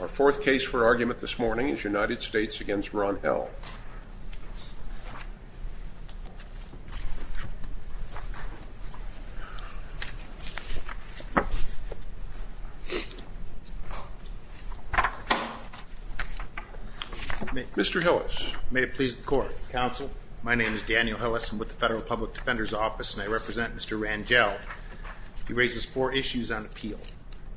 Our fourth case for argument this morning is United States v. Ron L. Mr. Hillis. May it please the Court. Counsel. My name is Daniel Hillis. I'm with the Federal Public Defender's Office and I represent Mr. Ranjel. He raises four issues on appeal.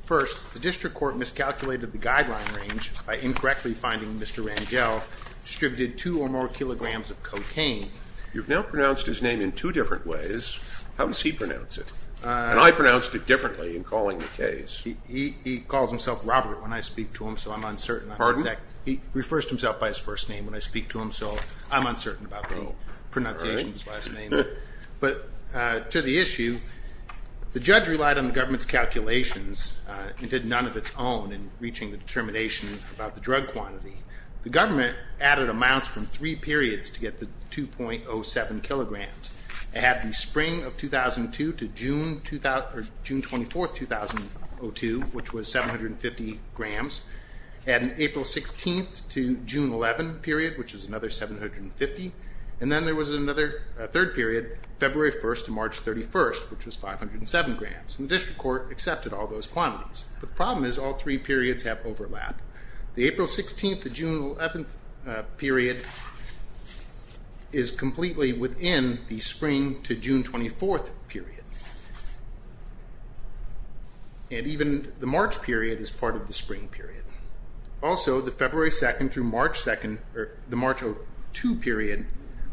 First, the district court miscalculated the guideline range by incorrectly finding Mr. Ranjel distributed two or more kilograms of cocaine. You've now pronounced his name in two different ways. How does he pronounce it? And I pronounced it differently in calling the case. He calls himself Robert when I speak to him, so I'm uncertain. Pardon? He refers to himself by his first name when I speak to him, so I'm uncertain about the pronunciation of his last name. But to the issue, the judge relied on the government's calculations and did none of its own in reaching the determination about the drug quantity. The government added amounts from three periods to get the 2.07 kilograms. It had the spring of 2002 to June 24th, 2002, which was 750 grams, and April 16th to June 11th period, which was another 750, and then there was another third period, February 1st to March 31st, which was 507 grams, and the district court accepted all those quantities. The problem is all three periods have overlap. The April 16th to June 11th period is completely within the spring to June 24th period, and even the March period is part of the spring period. Also, the February 2nd through March 2 period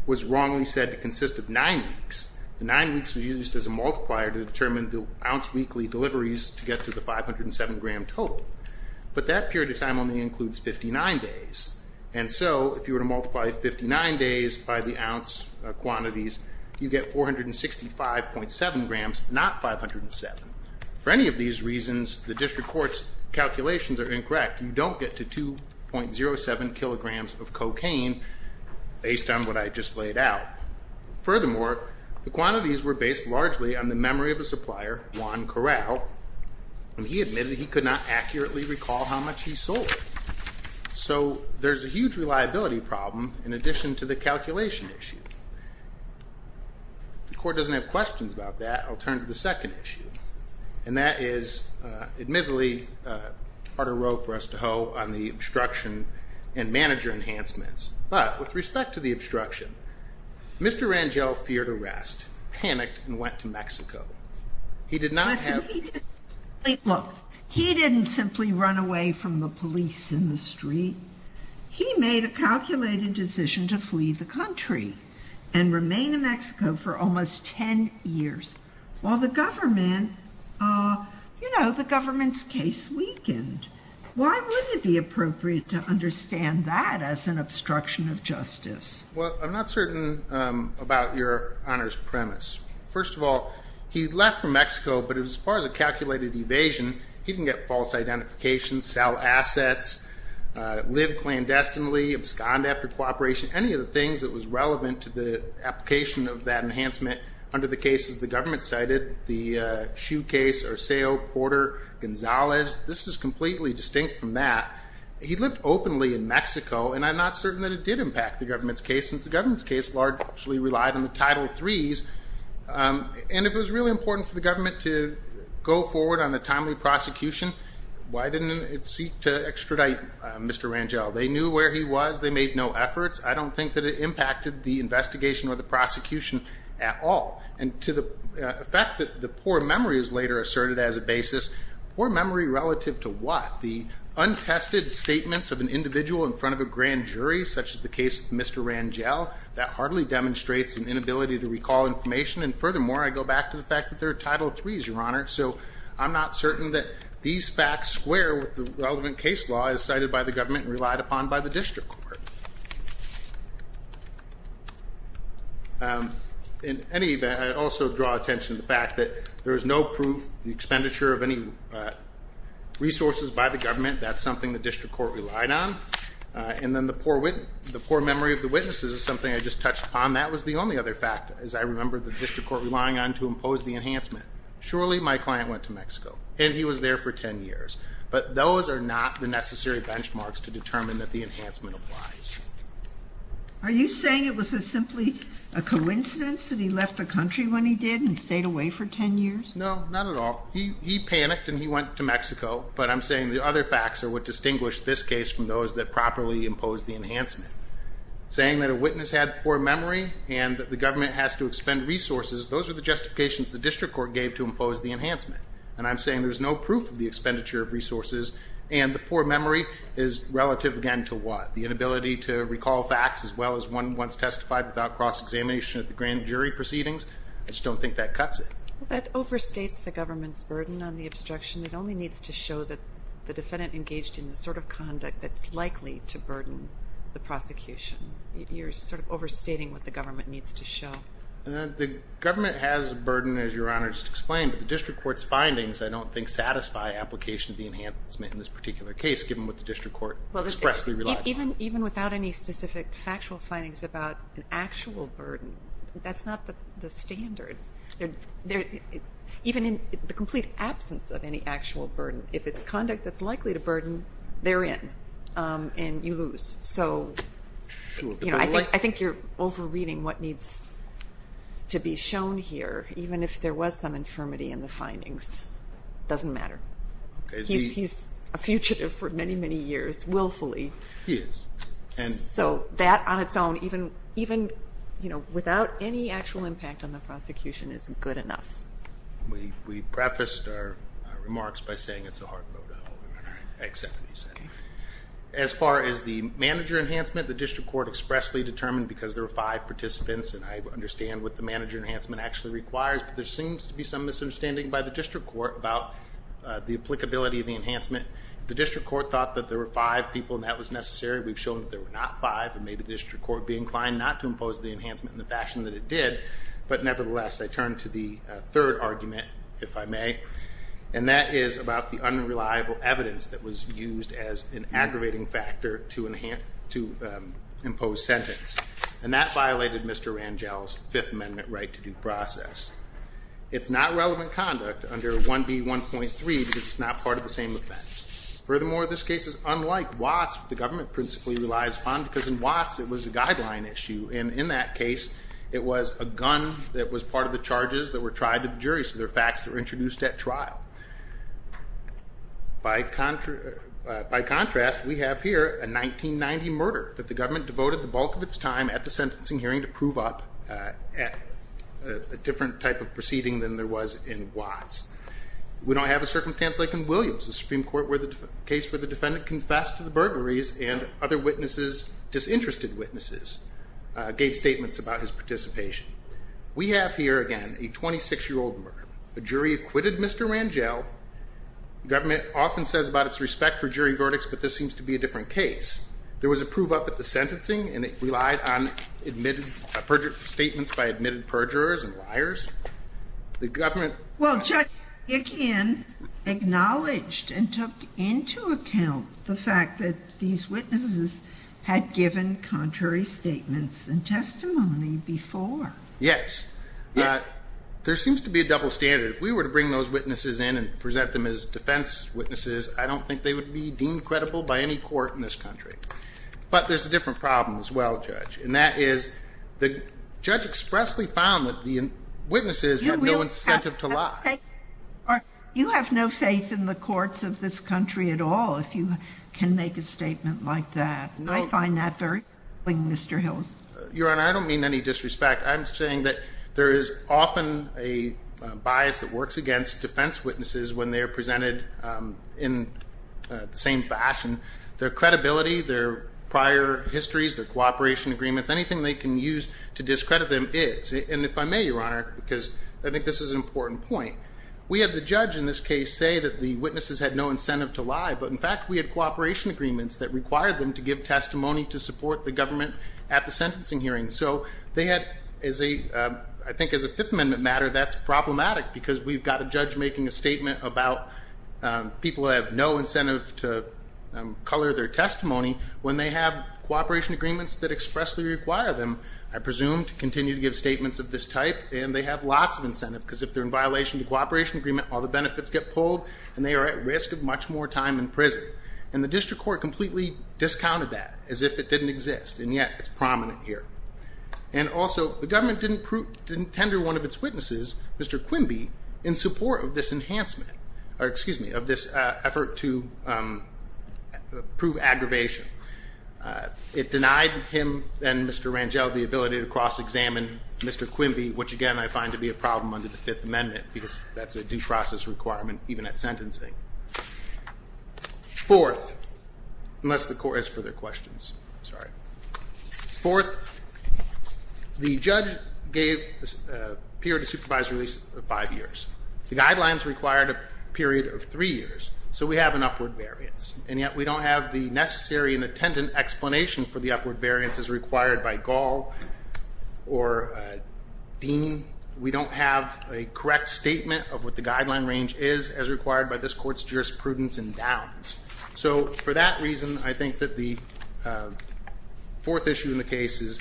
was wrongly said to consist of nine weeks. The nine weeks were used as a multiplier to determine the ounce weekly deliveries to get to the 507-gram total, but that period of time only includes 59 days, and so if you were to multiply 59 days by the ounce quantities, you get 465.7 grams, not 507. For any of these reasons, the district court's calculations are incorrect. You don't get to 2.07 kilograms of cocaine based on what I just laid out. Furthermore, the quantities were based largely on the memory of a supplier, Juan Corral, and he admitted he could not accurately recall how much he sold, so there's a huge reliability problem in addition to the calculation issue. If the court doesn't have questions about that, I'll turn to the second issue, and that is admittedly a harder row for us to hoe on the obstruction and manager enhancements, but with respect to the obstruction, Mr. Rangel feared arrest, panicked, and went to Mexico. He did not have... Look, he didn't simply run away from the police in the street. He made a calculated decision to flee the country and remain in Mexico for almost 10 years, while the government, you know, the government's case weakened. Why wouldn't it be appropriate to understand that as an obstruction of justice? Well, I'm not certain about your Honor's premise. First of all, he left for Mexico, but as far as a calculated evasion, he didn't get false identification, sell assets, live clandestinely, abscond after cooperation, any of the things that was relevant to the application of that enhancement under the cases the government cited, the shoe case, Orseo, Porter, Gonzalez. This is completely distinct from that. He lived openly in Mexico, and I'm not certain that it did impact the government's case since the government's case largely relied on the Title III's, and if it was really important for the government to go forward on the timely prosecution, why didn't it seek to extradite Mr. Rangel? They knew where he was. They made no efforts. I don't think that it impacted the investigation or the prosecution at all, and to the fact that the poor memory is later asserted as a basis. Poor memory relative to what? The untested statements of an individual in front of a grand jury, such as the case with Mr. Rangel, that hardly demonstrates an inability to recall information, and furthermore, I go back to the fact that there are Title III's, Your Honor, so I'm not certain that these facts square with the relevant case law as cited by the government and relied upon by the district court. In any event, I also draw attention to the fact that there is no proof, the expenditure of any resources by the government, that's something the district court relied on, and then the poor memory of the witnesses is something I just touched upon. That was the only other fact, as I remember the district court relying on to impose the enhancement. Surely my client went to Mexico, and he was there for 10 years, but those are not the necessary benchmarks to determine that the enhancement applies. Are you saying it was simply a coincidence that he left the country when he did and stayed away for 10 years? No, not at all. He panicked and he went to Mexico, but I'm saying the other facts are what distinguish this case from those that properly impose the enhancement. Saying that a witness had poor memory and that the government has to expend resources, those are the justifications the district court gave to impose the enhancement, and I'm saying there's no proof of the expenditure of resources, and the poor memory is relative, again, to what? The inability to recall facts as well as one once testified without cross-examination at the grand jury proceedings? I just don't think that cuts it. That overstates the government's burden on the obstruction. It only needs to show that the defendant engaged in the sort of conduct that's likely to burden the prosecution. You're sort of overstating what the government needs to show. The government has a burden, as Your Honor just explained, but the district court's findings I don't think satisfy application of the enhancement in this particular case, given what the district court expressly relied upon. Even without any specific factual findings about an actual burden, that's not the standard. Even in the complete absence of any actual burden, if it's conduct that's likely to burden, they're in, and you lose. So I think you're over-reading what needs to be shown here, even if there was some infirmity in the findings. It doesn't matter. He's a fugitive for many, many years, willfully. He is. So that on its own, even without any actual impact on the prosecution, is good enough. We prefaced our remarks by saying it's a hard no-no. I accept what you said. As far as the manager enhancement, the district court expressly determined, because there were five participants and I understand what the manager enhancement actually requires, but there seems to be some misunderstanding by the district court about the applicability of the enhancement. The district court thought that there were five people and that was necessary. We've shown that there were not five, and maybe the district court would be inclined not to impose the enhancement in the fashion that it did. But nevertheless, I turn to the third argument, if I may, and that is about the unreliable evidence that was used as an aggravating factor to impose sentence. And that violated Mr. Rangel's Fifth Amendment right to due process. It's not relevant conduct under 1B1.3 because it's not part of the same offense. Furthermore, this case is unlike Watts, which the government principally relies upon, because in Watts it was a guideline issue. And in that case, it was a gun that was part of the charges that were tried to the jury, so they're facts that were introduced at trial. By contrast, we have here a 1990 murder that the government devoted the bulk of its time at the sentencing hearing to prove up at a different type of proceeding than there was in Watts. We don't have a circumstance like in Williams, the Supreme Court where the case for the defendant confessed to the burglaries and other witnesses, disinterested witnesses, gave statements about his participation. We have here, again, a 26-year-old murder. The jury acquitted Mr. Rangel. The government often says about its respect for jury verdicts, but this seems to be a different case. There was a prove up at the sentencing, and it relied on statements by admitted perjurers and liars. Well, Judge, again, acknowledged and took into account the fact that these witnesses had given contrary statements and testimony before. Yes. There seems to be a double standard. If we were to bring those witnesses in and present them as defense witnesses, I don't think they would be deemed credible by any court in this country. But there's a different problem as well, Judge, and that is the judge expressly found that the witnesses had no incentive to lie. You have no faith in the courts of this country at all if you can make a statement like that. I find that very troubling, Mr. Hills. Your Honor, I don't mean any disrespect. I'm saying that there is often a bias that works against defense witnesses when they are presented in the same fashion. Their credibility, their prior histories, their cooperation agreements, anything they can use to discredit them is. And if I may, Your Honor, because I think this is an important point, we have the judge in this case say that the witnesses had no incentive to lie, but in fact we had cooperation agreements that required them to give testimony to support the government at the sentencing hearing. So they had, I think as a Fifth Amendment matter, that's problematic because we've got a judge making a statement about people who have no incentive to color their testimony when they have cooperation agreements that expressly require them, I presume, to continue to give statements of this type. And they have lots of incentive because if they're in violation of the cooperation agreement, all the benefits get pulled and they are at risk of much more time in prison. And the district court completely discounted that as if it didn't exist, and yet it's prominent here. And also, the government didn't tender one of its witnesses, Mr. Quimby, in support of this enhancement, or excuse me, of this effort to prove aggravation. It denied him and Mr. Rangel the ability to cross-examine Mr. Quimby, which again I find to be a problem under the Fifth Amendment because that's a due process requirement even at sentencing. Fourth, unless the court has further questions. I'm sorry. Fourth, the judge gave a period of supervised release of five years. The guidelines required a period of three years. So we have an upward variance, and yet we don't have the necessary and attendant explanation for the upward variance as required by Gall or Dean. We don't have a correct statement of what the guideline range is as required by this court's jurisprudence endowments. So for that reason, I think that the fourth issue in the case is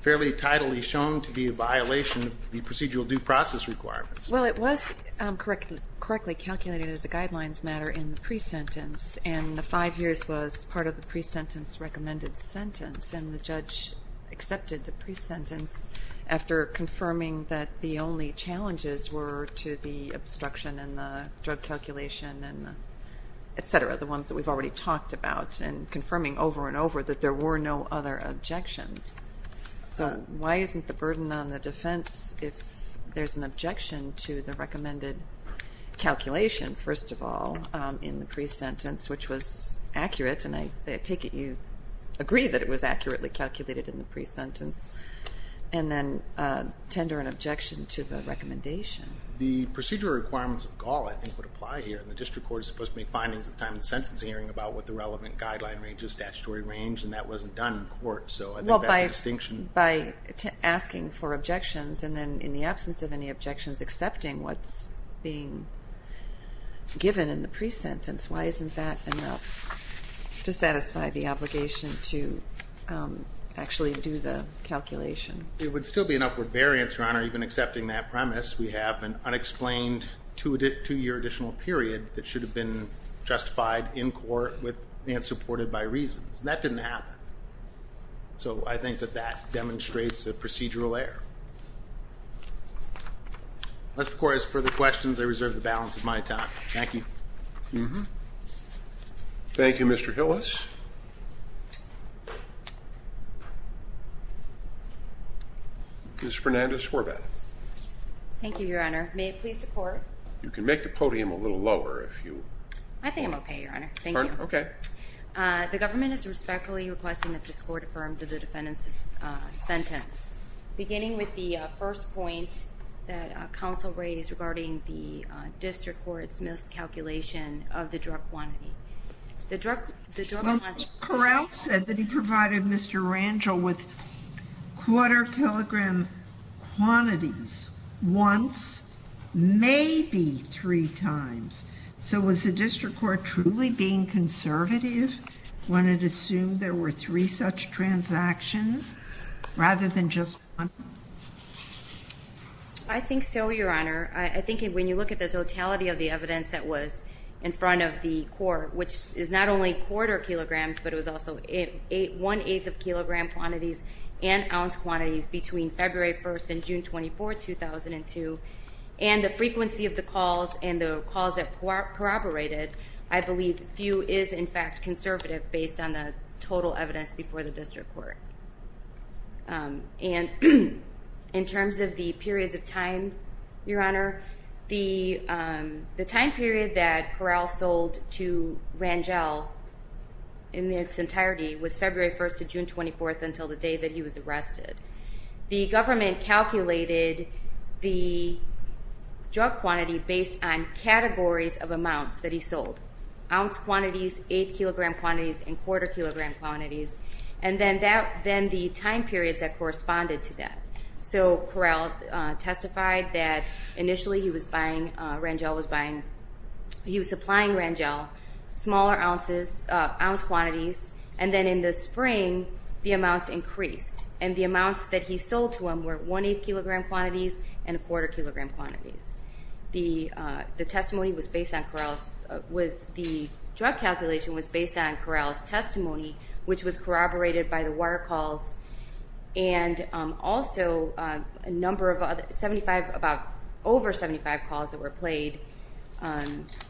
fairly tidily shown to be a violation of the procedural due process requirements. Well, it was correctly calculated as a guidelines matter in the pre-sentence, and the five years was part of the pre-sentence recommended sentence, and the judge accepted the pre-sentence after confirming that the only challenges were to the obstruction and the drug calculation, et cetera, the ones that we've already talked about, and confirming over and over that there were no other objections. So why isn't the burden on the defense if there's an objection to the recommended calculation, first of all, in the pre-sentence, which was accurate, and I take it you agree that it was accurately calculated in the pre-sentence, and then tender an objection to the recommendation? The procedural requirements of Gall, I think, would apply here, and the district court is supposed to make findings at the time of the sentence hearing about what the relevant guideline range is, statutory range, and that wasn't done in court. So I think that's a distinction. Well, by asking for objections and then in the absence of any objections accepting what's being given in the pre-sentence, why isn't that enough to satisfy the obligation to actually do the calculation? It would still be an upward variance, Your Honor, even accepting that premise. We have an unexplained two-year additional period that should have been justified in court and supported by reasons, and that didn't happen. So I think that that demonstrates a procedural error. Unless the court has further questions, I reserve the balance of my time. Thank you. Thank you, Mr. Hillis. Ms. Fernandez-Horvath. Thank you, Your Honor. May it please the Court? You can make the podium a little lower if you want. I think I'm okay, Your Honor. Thank you. Okay. Yes, ma'am. Sure. The government is respectfully requesting that this court affirm the defendant's sentence. Beginning with the first point that counsel raised regarding the district court's miscalculation of the drug quantity. Well, Correll said that he provided Mr. Rangel with quarter-kilogram quantities once, maybe three times. So was the district court truly being conservative when it assumed there were three such transactions rather than just one? I think so, Your Honor. I think when you look at the totality of the evidence that was in front of the court, which is not only quarter-kilograms, but it was also one-eighth of kilogram quantities and ounce quantities between February 1st and June 24th, 2002, and the frequency of the calls and the calls that corroborated, I believe few is, in fact, conservative based on the total evidence before the district court. And in terms of the periods of time, Your Honor, the time period that Correll sold to Rangel in its entirety was February 1st to June 24th until the day that he was arrested. The government calculated the drug quantity based on categories of amounts that he sold, ounce quantities, eight-kilogram quantities, and quarter-kilogram quantities, and then the time periods that corresponded to that. So Correll testified that initially he was supplying Rangel smaller ounce quantities, and then in the spring, the amounts increased, and the amounts that he sold to him were one-eighth-kilogram quantities and quarter-kilogram quantities. The drug calculation was based on Correll's testimony, which was corroborated by the wire calls and also a number of other 75, about over 75 calls that were played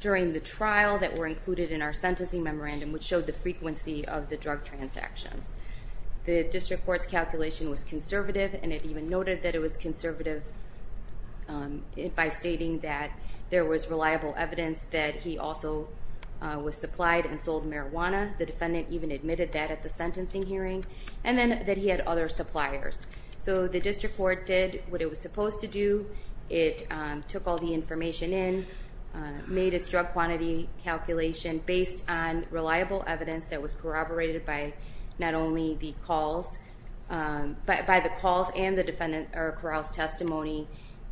during the trial that were included in our sentencing memorandum, which showed the frequency of the drug transactions. The district court's calculation was conservative, and it even noted that it was conservative by stating that there was reliable evidence that he also was supplied and sold marijuana. The defendant even admitted that at the sentencing hearing, and then that he had other suppliers. So the district court did what it was supposed to do. It took all the information in, made its drug quantity calculation based on reliable evidence that was corroborated by not only the calls, but by the calls and the defendant, or Correll's testimony,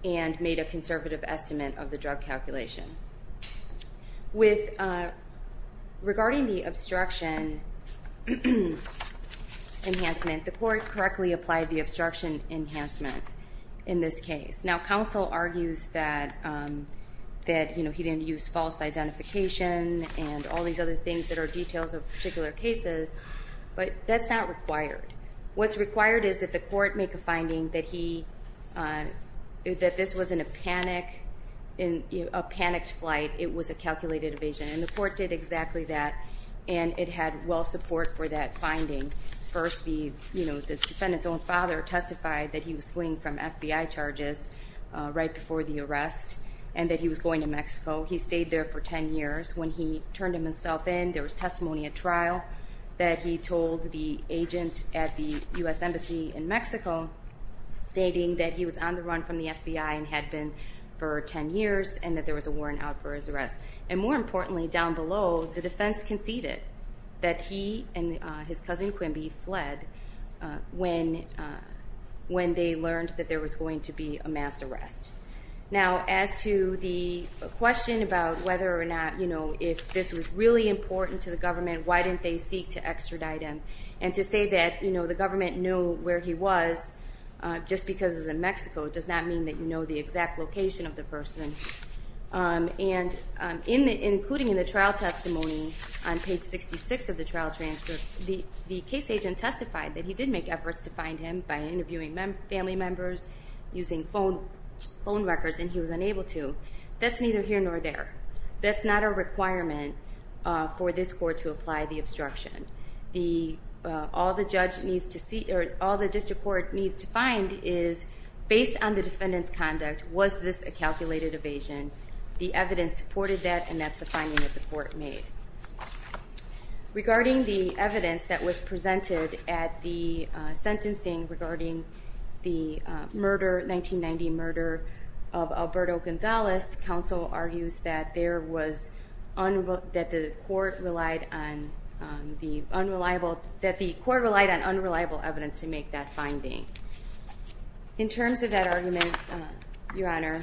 and made a conservative estimate of the drug calculation. Regarding the obstruction enhancement, the court correctly applied the obstruction enhancement in this case. Now, counsel argues that he didn't use false identification and all these other things that are details of particular cases, but that's not required. What's required is that the court make a finding that this wasn't a panicked flight. It was a calculated evasion, and the court did exactly that, and it had well support for that finding. First, the defendant's own father testified that he was fleeing from FBI charges right before the arrest and that he was going to Mexico. He stayed there for 10 years. When he turned himself in, there was testimony at trial that he told the agent at the U.S. Embassy in Mexico, stating that he was on the run from the FBI and had been for 10 years, and that there was a warrant out for his arrest. And more importantly, down below, the defense conceded that he and his cousin Quimby fled when they learned that there was going to be a mass arrest. Now, as to the question about whether or not if this was really important to the government, why didn't they seek to extradite him, and to say that the government knew where he was just because he was in Mexico does not mean that you know the exact location of the person. And including in the trial testimony on page 66 of the trial transcript, the case agent testified that he did make efforts to find him by interviewing family members, using phone records, and he was unable to. That's neither here nor there. That's not a requirement for this court to apply the obstruction. All the district court needs to find is, based on the defendant's conduct, was this a calculated evasion? The evidence supported that, and that's the finding that the court made. Regarding the evidence that was presented at the sentencing regarding the murder, 1990 murder of Alberto Gonzalez, counsel argues that the court relied on unreliable evidence to make that finding. In terms of that argument, Your Honor,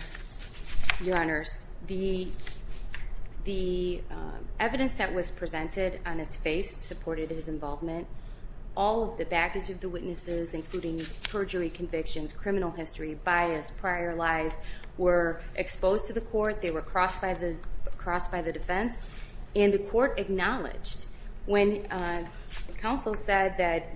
the evidence that was presented on his face supported his involvement. All of the baggage of the witnesses, including perjury convictions, criminal history, bias, prior lies, were exposed to the court. They were crossed by the defense. And the court acknowledged when counsel said that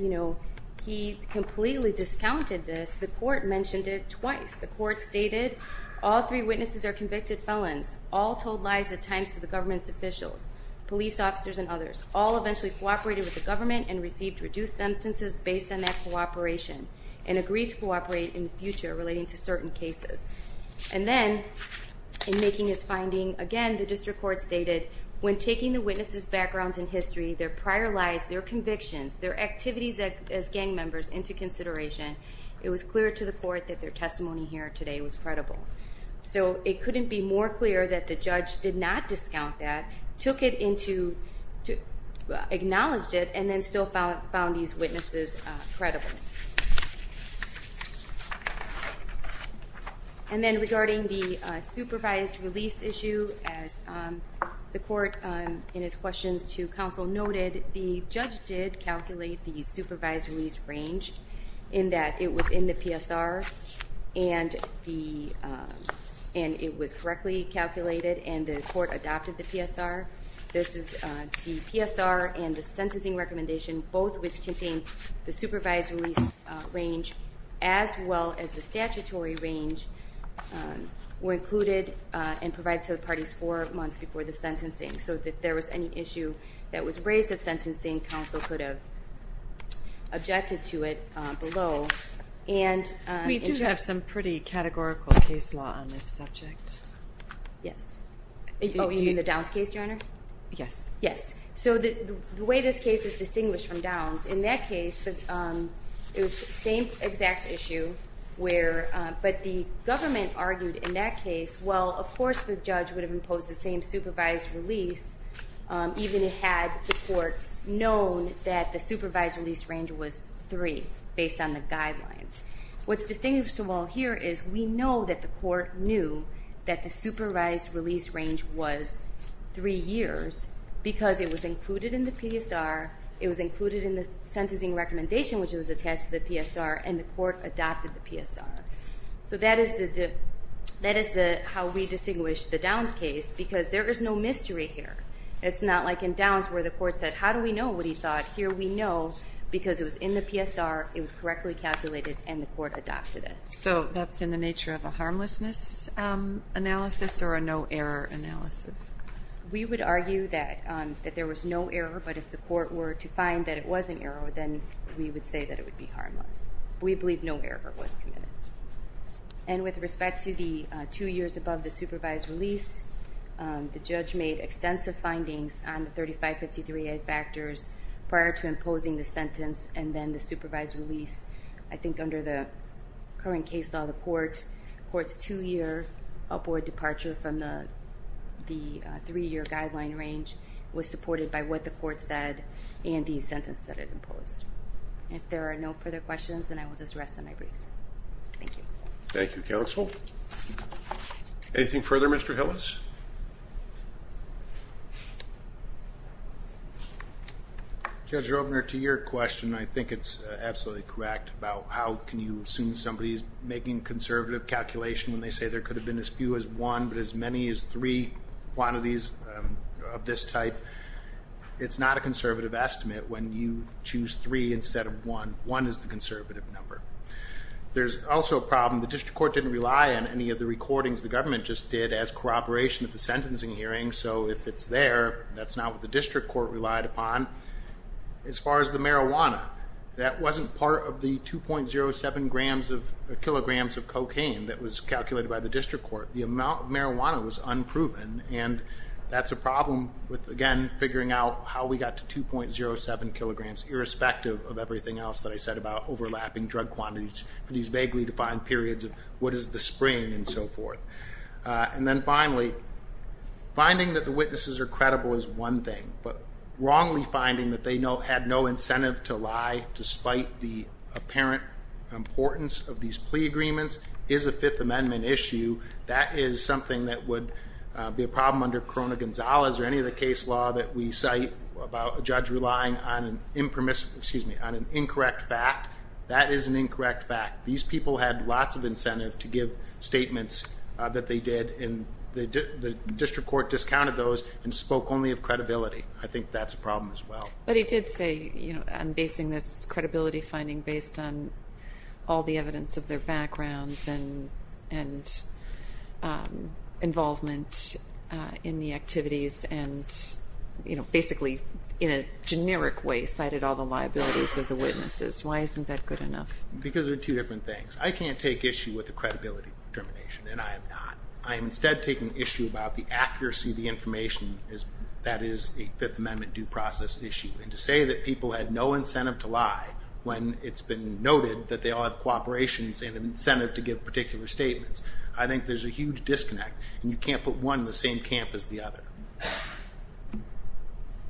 he completely discounted this, the court mentioned it twice. The court stated all three witnesses are convicted felons, all told lies at times to the government's officials, police officers, and others, all eventually cooperated with the government and received reduced sentences based on that cooperation and agreed to cooperate in the future relating to certain cases. And then, in making his finding, again, the district court stated, when taking the witnesses' backgrounds and history, their prior lies, their convictions, their activities as gang members into consideration, it was clear to the court that their testimony here today was credible. So it couldn't be more clear that the judge did not discount that, took it into, acknowledged it, and then still found these witnesses credible. And then regarding the supervised release issue, as the court in its questions to counsel noted, the judge did calculate the supervised release range in that it was in the PSR and it was correctly calculated and the court adopted the PSR. This is the PSR and the sentencing recommendation, both which contain the supervised release range as well as the statutory range, were included and provided to the parties four months before the sentencing. So if there was any issue that was raised at sentencing, counsel could have objected to it below. We do have some pretty categorical case law on this subject. Yes. Oh, you mean the Downs case, Your Honor? Yes. Yes. So the way this case is distinguished from Downs, in that case, it was the same exact issue, but the government argued in that case, well, of course the judge would have imposed the same supervised release even had the court known that the supervised release range was three based on the guidelines. What's distinguishable here is we know that the court knew that the supervised release range was three years because it was included in the PSR, it was included in the sentencing recommendation, which was attached to the PSR, and the court adopted the PSR. So that is how we distinguish the Downs case because there is no mystery here. It's not like in Downs where the court said, how do we know what he thought? Here we know because it was in the PSR, it was correctly calculated, and the court adopted it. So that's in the nature of a harmlessness analysis or a no error analysis? We would argue that there was no error, but if the court were to find that it was an error, then we would say that it would be harmless. We believe no error was committed. And with respect to the two years above the supervised release, the judge made extensive findings on the 3553A factors prior to imposing the sentence and then the supervised release. I think under the current case law, the court's two-year upward departure from the three-year guideline range was supported by what the court said and the sentence that it imposed. If there are no further questions, then I will just rest on my briefs. Thank you. Thank you, counsel. Anything further, Mr. Hillis? Judge Rovner, to your question, I think it's absolutely correct about how can you assume somebody is making conservative calculation when they say there could have been as few as one, but as many as three quantities of this type. It's not a conservative estimate when you choose three instead of one. One is the conservative number. There's also a problem. The district court didn't rely on any of the recordings the government just did as corroboration of the sentencing hearing, so if it's there, that's not what the district court relied upon. As far as the marijuana, that wasn't part of the 2.07 kilograms of cocaine that was calculated by the district court. The amount of marijuana was unproven, and that's a problem with, again, figuring out how we got to 2.07 kilograms, irrespective of everything else that I said about overlapping drug quantities for these vaguely defined periods of what is the spring and so forth. And then finally, finding that the witnesses are credible is one thing, but wrongly finding that they had no incentive to lie, despite the apparent importance of these plea agreements, is a Fifth Amendment issue. That is something that would be a problem under Corona Gonzalez or any of the case law that we cite about a judge relying on an incorrect fact. That is an incorrect fact. These people had lots of incentive to give statements that they did, and the district court discounted those and spoke only of credibility. I think that's a problem as well. But he did say, you know, I'm basing this credibility finding based on all the evidence of their backgrounds and involvement in the activities and, you know, basically in a generic way cited all the liabilities of the witnesses. Why isn't that good enough? Because there are two different things. I can't take issue with the credibility determination, and I am not. I am instead taking issue about the accuracy of the information. That is a Fifth Amendment due process issue. And to say that people had no incentive to lie when it's been noted that they all have cooperations and incentive to give particular statements, I think there's a huge disconnect, and you can't put one in the same camp as the other.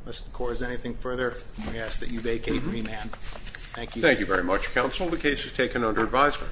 Unless the court has anything further, I ask that you vacate me, man. Thank you. Thank you very much, counsel. The case is taken under advisement.